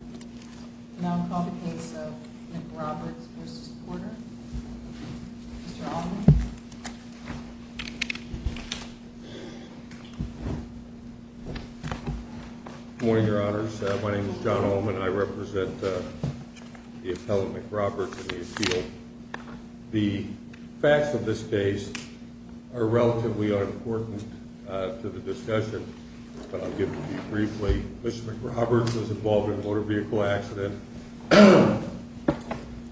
Good morning, your honors. My name is John Ullman. I represent the appellate McRoberts and the appeal. The facts of this case are relatively unimportant to the discussion, but I'll give it to you briefly. Mr. McRoberts was involved in a motor vehicle accident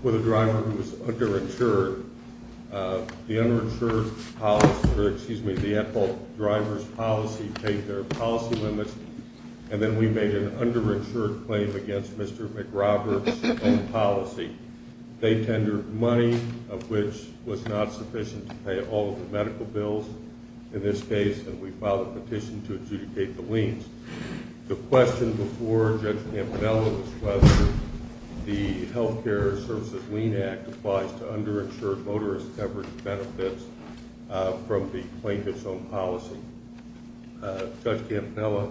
with a driver who was underinsured. The underinsured policy, or excuse me, the at-fault driver's policy paid their policy limits, and then we made an underinsured claim against Mr. McRoberts' own policy. They tendered money, of which was not sufficient to pay all of the medical bills in this case, and we filed a petition to adjudicate the liens. The question before Judge Campanella was whether the Healthcare Services Lien Act applies to underinsured motorist coverage benefits from the plaintiff's own policy. Judge Campanella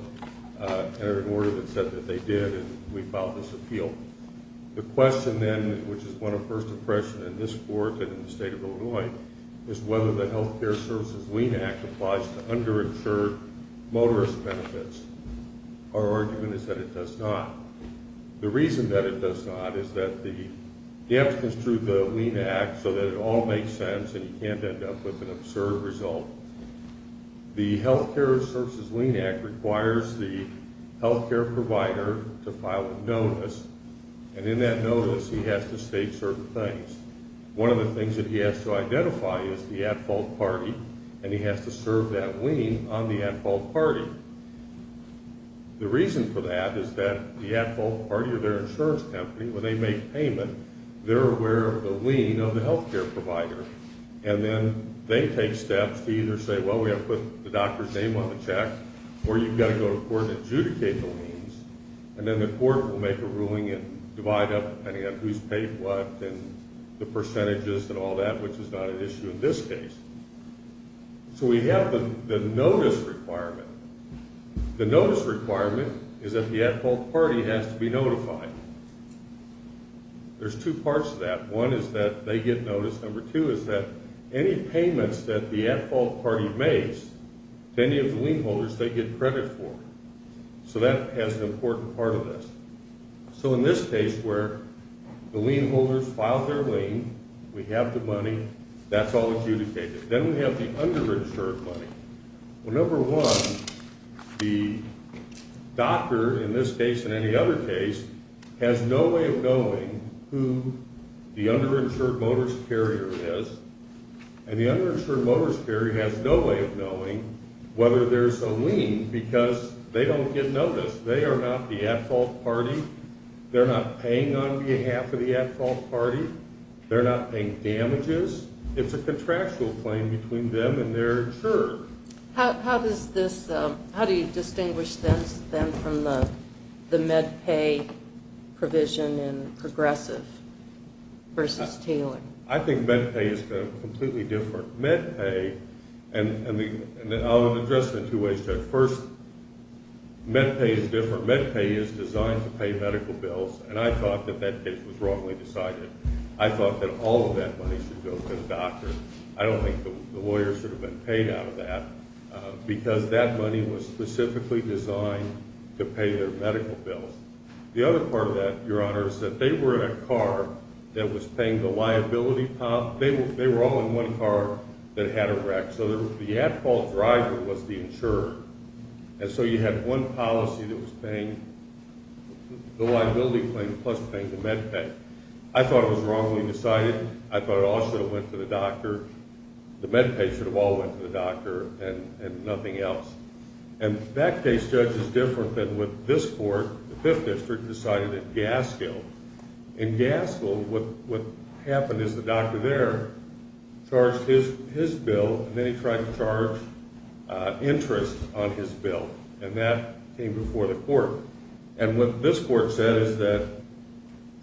entered an order that said that they did, and we filed this appeal. The question then, which is one of first impression in this court and in the Healthcare Services Lien Act, applies to underinsured motorist benefits. Our argument is that it does not. The reason that it does not is that the dams construed the Lien Act so that it all makes sense and you can't end up with an absurd result. The Healthcare Services Lien Act requires the healthcare provider to file a notice, and in that notice he has to state certain things. One of the things that he has to identify is the at-fault party, and he has to serve that lien on the at-fault party. The reason for that is that the at-fault party or their insurance company, when they make payment, they're aware of the lien of the healthcare provider, and then they take steps to either say, well, we have to put the doctor's name on the check, or you've got to go to court and adjudicate the liens, and then the court will make a ruling and divide up, depending on who's paid what, and the percentages and all that, which is not an issue in this case. So we have the notice requirement. The notice requirement is that the at-fault party has to be notified. There's two parts to that. One is that they get notice. Number two is that any payments that the at-fault party makes to any of the lien holders, they get credit for. So that has an important part of this. So in this case, where the lien holders filed their lien, we have the money, that's all adjudicated. Then we have the underinsured money. Well, number one, the doctor, in this case and any other case, has no way of knowing who the underinsured motorist carrier is, and the underinsured motorist carrier has no way of knowing whether there's a lien, because they don't get notice. They are not the at-fault party. They're not paying on behalf of the at-fault party. They're not paying damages. It's a contractual claim between them and their insurer. How does this, how do you distinguish them from the MedPay provision in Progressive versus Taylor? I think MedPay is completely different. MedPay, and I'll say this, MedPay is a company that was designed to pay medical bills, and I thought that that case was wrongly decided. I thought that all of that money should go to the doctor. I don't think the lawyers should have been paid out of that, because that money was specifically designed to pay their medical bills. The other part of that, Your Honor, is that they were in a car that was paying the liability, they were all in one car that had a wreck, so the at-fault driver was the insurer, and so you had one policy that was paying the liability claim plus paying the MedPay. I thought it was wrongly decided. I thought it all should have went to the doctor. The MedPay should have all went to the doctor and nothing else, and that case, Judge, is different than what this court, the Fifth District, decided at Gaskill. In Gaskill, what happened is the doctor there charged his bill, and then he tried to charge interest on his bill, and that came before the court, and what this court said is that,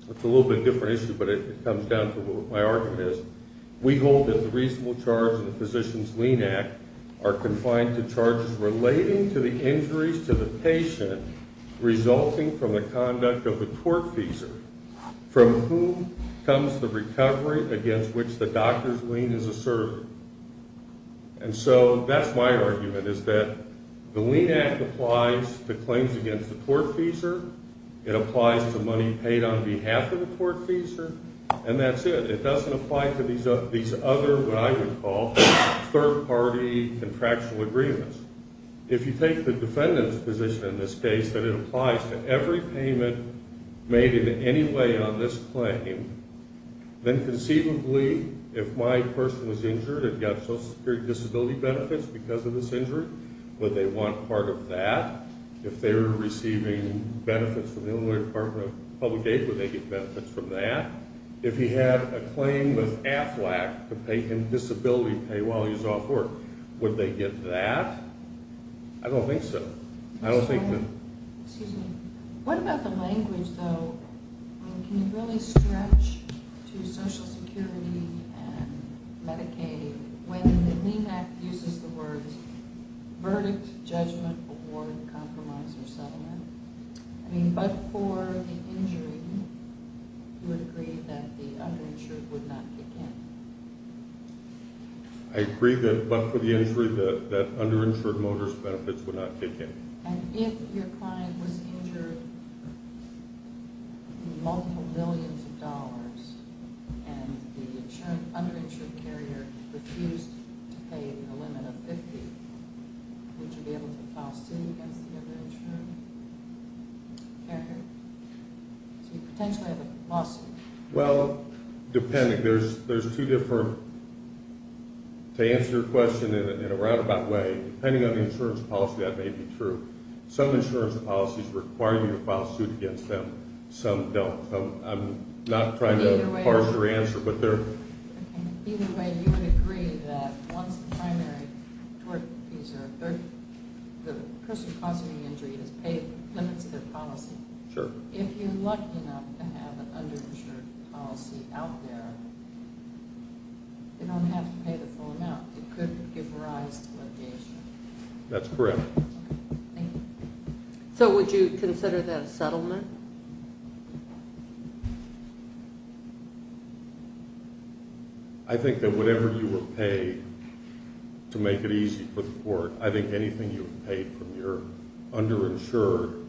it's a little bit different issue, but it comes down to what my argument is, we hold that the reasonable charge in the Physician's Lien Act are confined to charges relating to the injuries to the patient resulting from the conduct of a tortfeasor, from whom comes the recovery against which the doctor's lien is asserted, and so that's my argument, is that the Lien Act applies to claims against the tortfeasor, it applies to money paid on behalf of the tortfeasor, and that's it. It doesn't apply to these other, what I would call, third-party contractual agreements. If you take the defendant's position in this case, that it applies to every payment made in any way on this claim, then conceivably, if my person was injured and got Social Security Disability benefits because of this injury, would they want part of that? If they were receiving benefits from the Illinois Department of Public Aid, would they get benefits from that? If he had a claim with AFLAC to pay him disability pay while he was off work, would they get that? I don't think so. I don't think that... Excuse me. What about the language, though? Can you really stretch to Social Security and Medicaid when the Lien Act uses the words verdict, judgment, award, compromise, or settlement? I mean, but for the injury, you would agree that the underinsured would not kick in? I agree that, but for the injury, that underinsured motorist benefits would not kick in. And if your client was injured in multiple millions of dollars and the underinsured carrier refused to pay a limit of 50, would you be able to file a suit against the underinsured carrier? So you potentially have a lawsuit. Well, depending. There's two different... To answer your question in a roundabout way, depending on the insurance policy, that may be true. Some insurance policies require you to file a suit against them. Some don't. I'm not trying to parse your answer, but they're... Either way, you would agree that once the primary tort fees are 30, the person causing the injury is paid, limits their policy. Sure. If you're lucky enough to have an underinsured policy out there, they don't have to pay the full amount. It could give rise to litigation. That's correct. Thank you. So would you consider that a settlement? I think that whatever you were paid to make it easy for the court, I think anything you were paid from your underinsured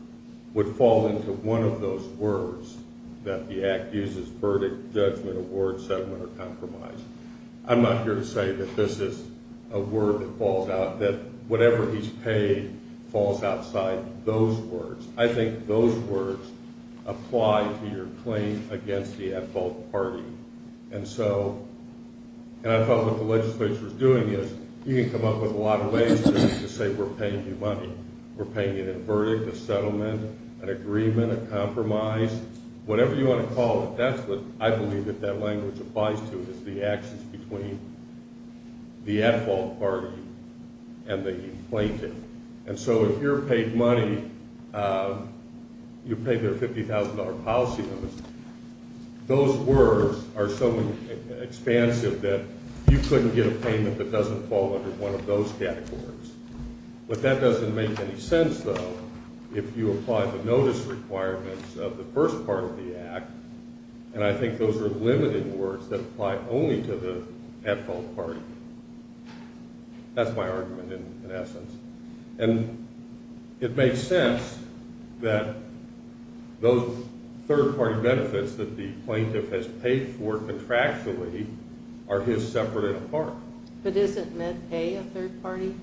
would fall into one of those words that the Act uses, verdict, judgment, award, settlement, or compromise. I'm not here to say that this is a word that falls out, that whatever he's paid falls outside those words. I think those words apply to your claim against the at-fault party. And so... And I thought what the legislature's doing is you can come up with a lot of ways to say we're paying you money. We're paying you a verdict, a settlement, an agreement, a compromise. Whatever you want to call it, that's what I believe that that language applies to is the actions between the at-fault party and the plaintiff. And so if you're paid money, you pay their $50,000 policy limits, those words are so expansive that you couldn't get a payment that doesn't fall under one of those categories. But that doesn't make any sense, though, if you apply the notice requirements of the first part of the Act, and I think those are limited words that apply only to the at-fault party. That's my argument, in essence. And it makes sense that those third-party benefits that the plaintiff has paid for contractually are his separate and apart. But isn't MedPay a third-party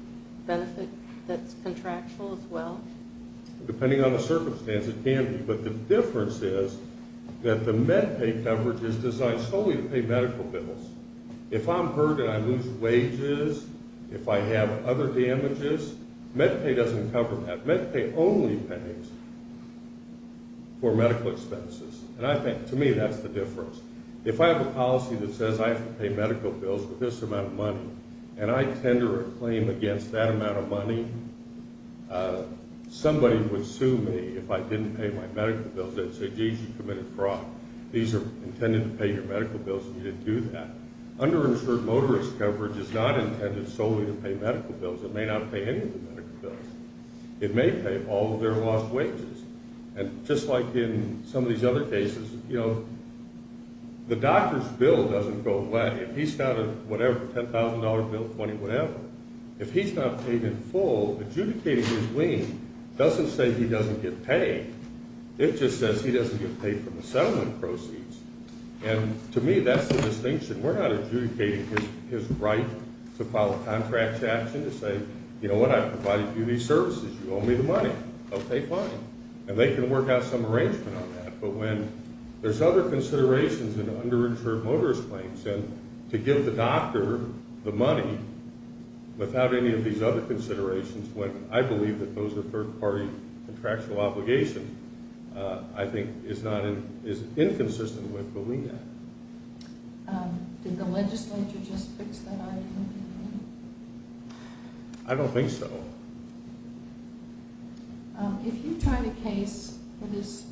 benefit that's contractual as well? Depending on the circumstance, it can be. But the difference is that the MedPay coverage is designed solely to pay medical bills. If I'm hurt and I lose wages, if I have other damages, MedPay doesn't cover that. MedPay only pays for medical expenses. And to me, that's the difference. If I have a policy that says I have to pay medical bills for this amount of money, and I tender a claim against that amount of money, somebody would sue me if I didn't pay my medical bills. They'd say, geez, you committed fraud. These are intended to pay your medical bills, and you didn't do that. Underinsured motorist coverage is not intended solely to pay medical bills. It may not pay any of the medical bills. It may pay all of their lost wages. And just like in some of these other cases, the doctor's bill doesn't go away. If he's got a whatever, $10,000 bill, 20 whatever, if he's not paid in full, adjudicating his lien doesn't say he doesn't get paid. It just says he doesn't get paid from the settlement proceeds. And to me, that's the distinction. We're not adjudicating his right to file a contract action to say, you know what, I've provided you these services. You owe me the money. Okay, fine. And they can work out some arrangement on that. But when there's other considerations in underinsured motorist claims, and to give the doctor the money without any of these other considerations, when I believe that those are third-party contractual obligations, I think is inconsistent with the lien act. Did the legislature just fix that argument? I don't think so. If you tried a case for this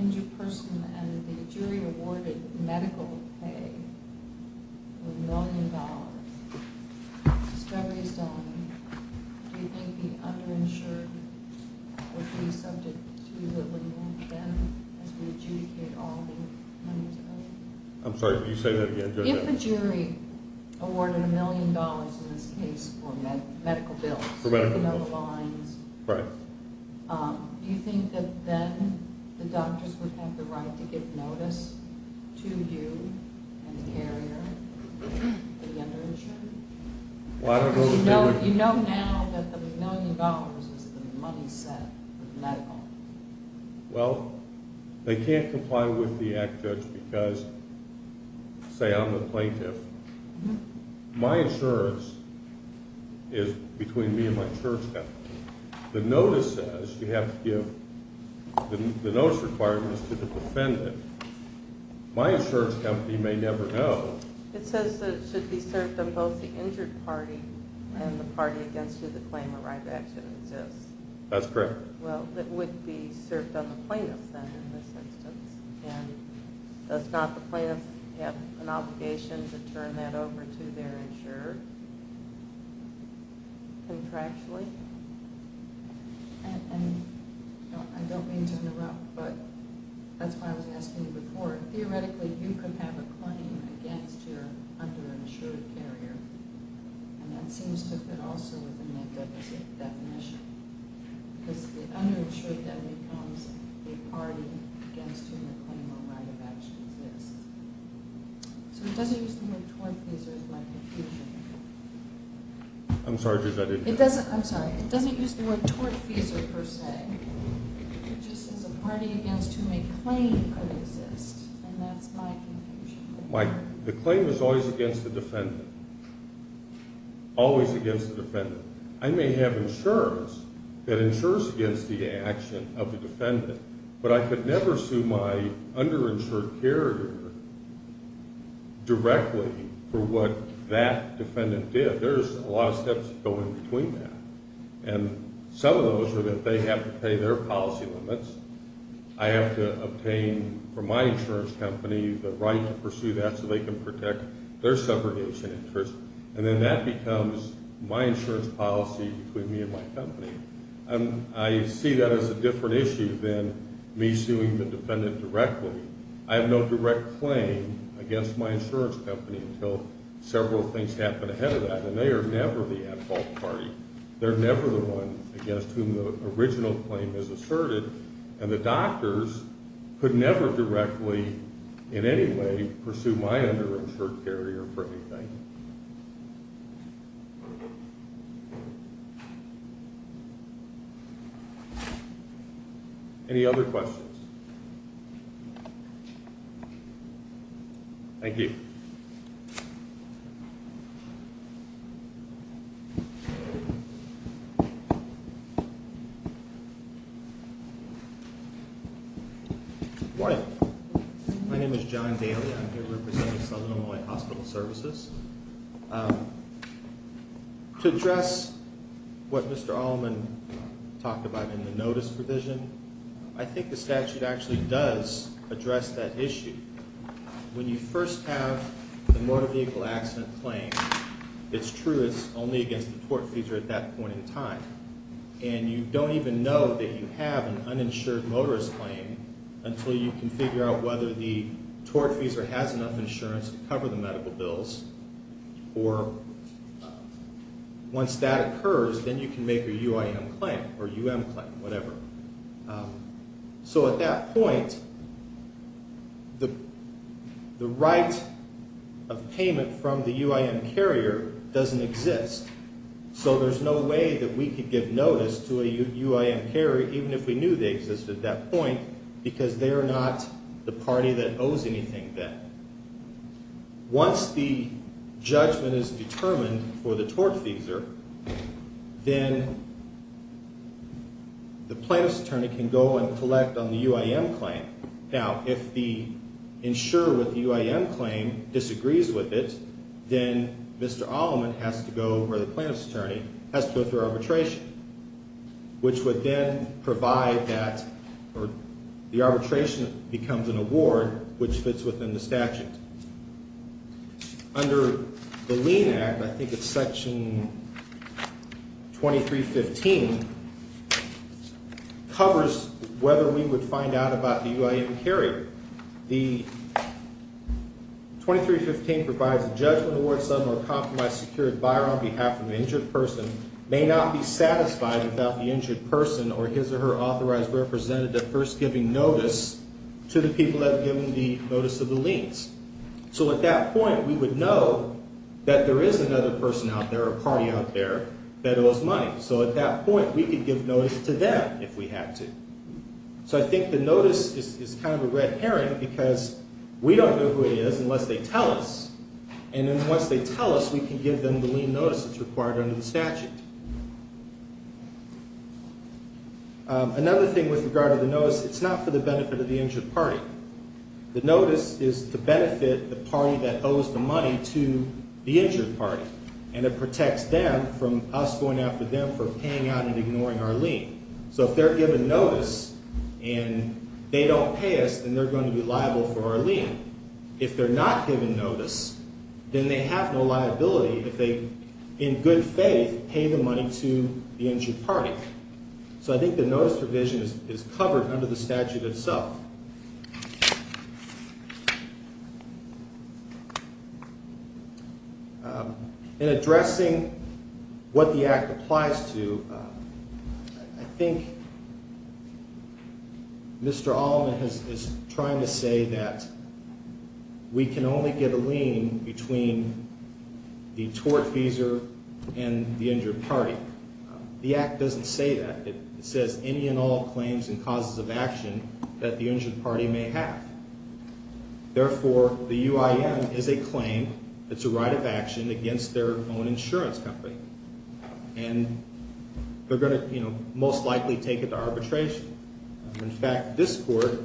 injured person and the jury awarded medical pay of a million dollars, the discovery is done, do you think the underinsured would be subject to the lien then as we adjudicate all the money? I'm sorry, can you say that again? If a jury awarded a million dollars in this case for medical bills, you know the lines, do you think that then the doctors would have the right to give notice to you and the carrier to the underinsured? You know now that the million dollars is the money set for the medical. Well, they can't comply with the act, Judge, because say I'm the plaintiff. My insurance is between me and my insurance company. The notice says you have to give the notice requirements to the defendant. My insurance company may never know. It says that it should be served on both the injured party and the party against who the claim arrived at should exist. That's correct. Well, it would be served on the plaintiff then in this instance, and does not the plaintiff have an obligation to turn that over to their insurer contractually? I don't mean to interrupt, but that's why I was asking you before. Theoretically, you could have a claim against your underinsured carrier, and that seems to fit also within that definition, because the underinsured then becomes the party against whom the claim arrived at should exist. So it doesn't use the word tortfeasor is my confusion. I'm sorry, Judge, I didn't hear you. I'm sorry, it doesn't use the word tortfeasor per se. It just says a party against whom a claim could exist, and that's my confusion. The claim is always against the defendant, always against the defendant. I may have insurance that insures against the action of the defendant, but I could never sue my underinsured carrier directly for what that defendant did. There's a lot of steps that go in between that, and some of those are that they have to pay their policy limits. I have to obtain from my insurance company the right to pursue that so they can protect their subordination interest, and then that becomes my insurance policy between me and my company. I see that as a different issue than me suing the defendant directly. I have no direct claim against my insurance company until several things happen ahead of that, and they are never the at-fault party. They're never the one against whom the original claim is asserted, and the doctors could never directly in any way pursue my underinsured carrier for anything. Any other questions? Thank you. Good morning. Good morning. My name is John Daly. I'm here representing Southern Illinois Hospital Services. To address what Mr. Allman talked about in the notice provision, I think the statute actually does address that issue. When you first have the motor vehicle accident claim, it's true it's only against the tortfeasor at that point in time, and you don't even know that you have an uninsured motorist claim until you can figure out whether the tortfeasor has enough insurance to cover the medical bills, or once that occurs, then you can make a UIM claim or UM claim, whatever. So at that point, the right of payment from the UIM carrier doesn't exist, so there's no way that we could give notice to a UIM carrier, even if we knew they existed at that point, because they're not the party that owes anything then. Once the judgment is determined for the tortfeasor, then the plaintiff's attorney can go and collect on the UIM claim. Now, if the insurer with the UIM claim disagrees with it, then Mr. Allman has to go, or the plaintiff's attorney has to go through arbitration, which would then provide that, or the arbitration becomes an award, which fits within the statute. Under the Lean Act, I think it's Section 2315, covers whether we would find out about the UIM carrier. The 2315 provides a judgment award, sudden or compromised security buyer on behalf of an injured person may not be satisfied without the injured person or his or her authorized representative first giving notice to the people that have given the notice of the liens. So at that point, we would know that there is another person out there, a party out there, that owes money. So at that point, we could give notice to them if we had to. So I think the notice is kind of a red herring, because we don't know who it is unless they tell us, and then once they tell us, we can give them the lien notice that's required under the statute. Another thing with regard to the notice, it's not for the benefit of the injured party. The notice is to benefit the party that owes the money to the injured party, and it protects them from us going after them for paying out and ignoring our lien. So if they're given notice and they don't pay us, then they're going to be liable for our lien. If they're not given notice, then they have no liability if they, in good faith, pay the money to the injured party. So I think the notice provision is covered under the statute itself. In addressing what the Act applies to, I think Mr. Allman is trying to say that we can only get a lien between the tortfeasor and the injured party. The Act doesn't say that. It says any and all claims and causes of action that the injured party may have. Therefore, the UIN is a claim. It's a right of action against their own insurance company, and they're going to most likely take it to arbitration. In fact, this court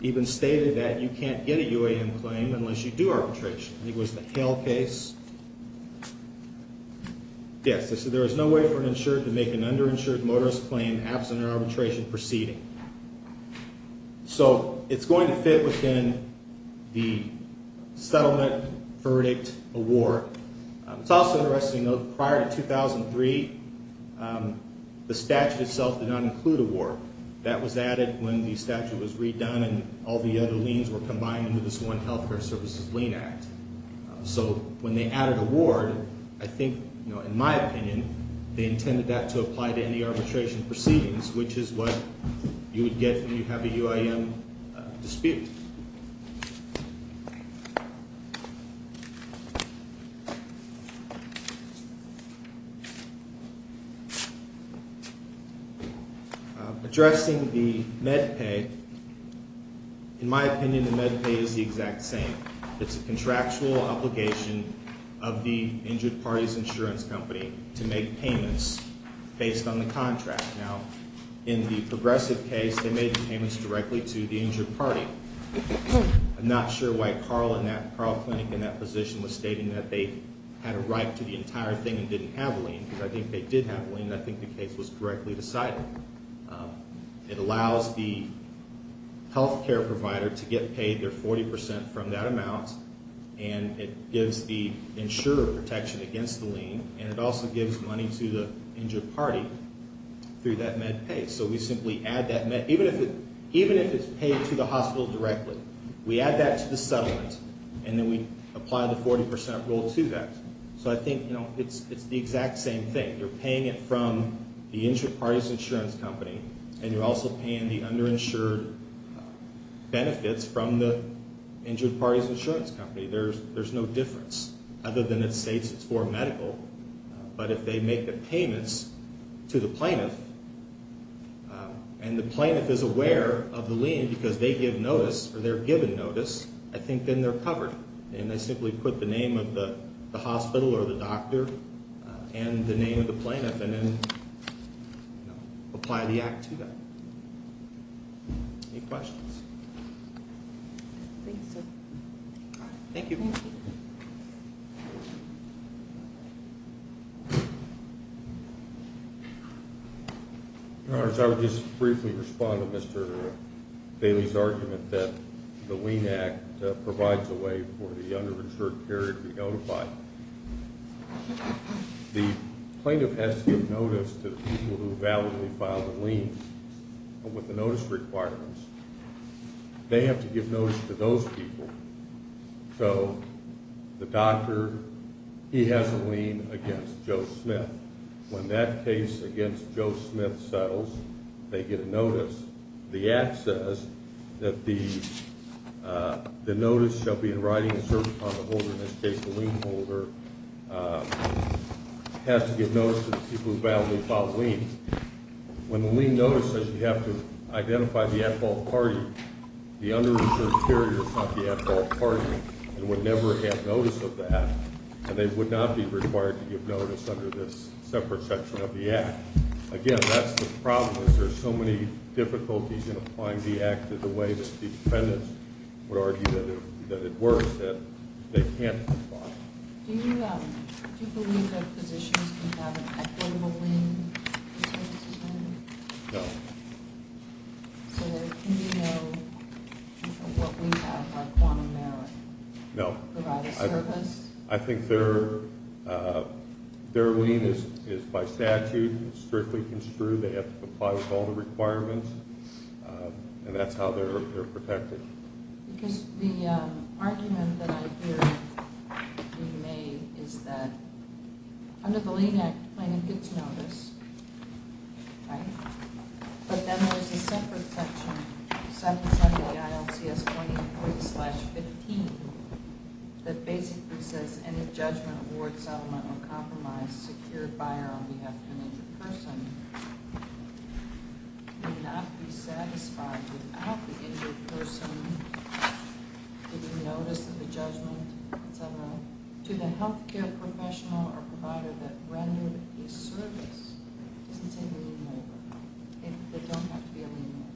even stated that you can't get a UIN claim unless you do arbitration. It was the Hale case. Yes, it says there is no way for an insured to make an underinsured motorist claim absent an arbitration proceeding. So it's going to fit within the settlement verdict award. It's also interesting to note that prior to 2003, the statute itself did not include award. That was added when the statute was redone and all the other liens were combined into this one health care services lien act. So when they added award, I think, in my opinion, they intended that to apply to any arbitration proceedings, which is what you would get when you have a UIN dispute. Addressing the MedPay, in my opinion, the MedPay is the exact same. It's a contractual obligation of the injured party's insurance company to make payments based on the contract. Now, in the Progressive case, they made the payments directly to the injured party. I'm not sure why Carl Clinic in that position was stating that they had a right to the entire thing and didn't have a lien, because I think they did have a lien, and I think the case was directly decided. It allows the health care provider to get paid their 40% from that amount, and it gives the insurer protection against the lien, and it also gives money to the injured party through that MedPay. So we simply add that MedPay, even if it's paid to the hospital directly. We add that to the settlement, and then we apply the 40% rule to that. So I think it's the exact same thing. You're paying it from the injured party's insurance company, and you're also paying the underinsured benefits from the injured party's insurance company. There's no difference, other than it states it's for medical. But if they make the payments to the plaintiff, and the plaintiff is aware of the lien because they give notice, or they're given notice, I think then they're covered. And they simply put the name of the hospital, or the doctor, and the name of the plaintiff, and then apply the act to them. Any questions? Thank you, sir. Thank you. Thank you. Your Honor, I would just briefly respond to Mr. Daley's argument that the lien act provides a way for the underinsured party to be notified. The plaintiff has to give notice to the people who validly filed the lien with the notice requirements. They have to give notice to those people. So the doctor, he has a lien against Joe Smith. When that case against Joe Smith settles, they get a notice. The act says that the notice shall be in writing to a certain kind of holder, in this case the lien holder, has to give notice to the people who validly filed the lien. When the lien notice says you have to identify the at-fault party, the underinsured party is not the at-fault party. They would never have notice of that, and they would not be required to give notice under this separate section of the act. Again, that's the problem, is there's so many difficulties in applying the act in the way that the defendants would argue that it works, that they can't apply it. Do you believe that physicians can have an equitable lien for services rendered? No. So can you know what we have by quantum merit? No. Provide a service? I think their lien is by statute, it's strictly construed, they have to comply with all the requirements, and that's how they're protected. Because the argument that I hear being made is that under the lien act, the plaintiff gets notice, but then there's a separate section, 770-ILCS-20.15, that basically says any judgment, award, settlement, or compromise secured by or on behalf of an injured person may not be satisfied without the injured person getting notice of the judgment, etc. To the health care professional or provider that rendered a service, it's a lien waiver. They don't have to be a lien waiver.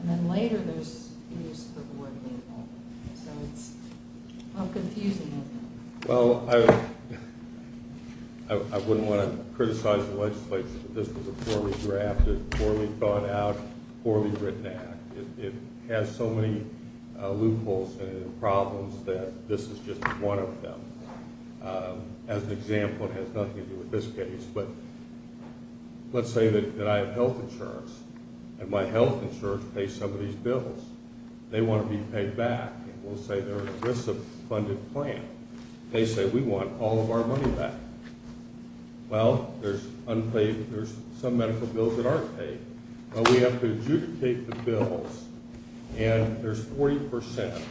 And then later there's use of awarding, so it's confusing. Well, I wouldn't want to criticize the legislation, but this was a poorly drafted, poorly thought out, poorly written act. It has so many loopholes and problems that this is just one of them. As an example, it has nothing to do with this case, but let's say that I have health insurance, and my health insurance pays some of these bills. They want to be paid back, and we'll say there exists a funded plan. They say we want all of our money back. Well, there's some medical bills that aren't paid, but we have to adjudicate the bills. And there's 40%,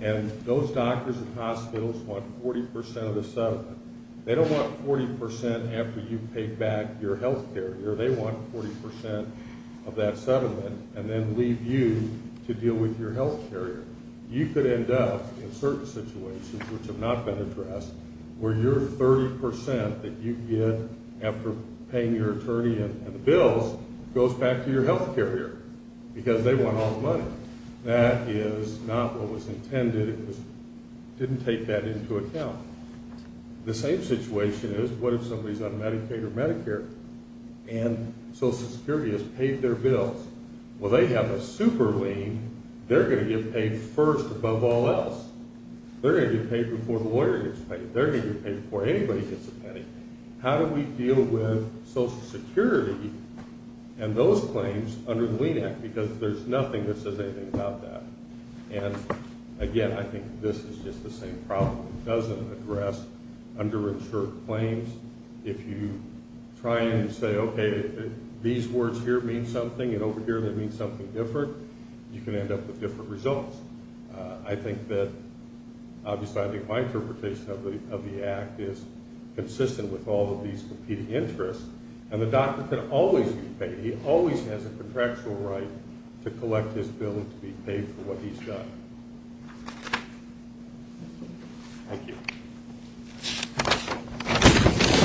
and those doctors and hospitals want 40% of the settlement. They don't want 40% after you've paid back your health care. They want 40% of that settlement and then leave you to deal with your health care. You could end up in certain situations, which have not been addressed, where your 30% that you get after paying your attorney and the bills goes back to your health care here because they want all the money. That is not what was intended. It didn't take that into account. The same situation is what if somebody's on Medicaid or Medicare, and Social Security has paid their bills? Well, they have a super lien. They're going to get paid first above all else. They're going to get paid before the lawyer gets paid. They're going to get paid before anybody gets a penny. How do we deal with Social Security and those claims under the Lien Act because there's nothing that says anything about that? And, again, I think this is just the same problem. It doesn't address underinsured claims. If you try and say, okay, these words here mean something and over here they mean something different, you can end up with different results. I think that, obviously, I think my interpretation of the Act is consistent with all of these competing interests, and the doctor can always be paid. He always has a contractual right to collect his bill and to be paid for what he's done. Thank you.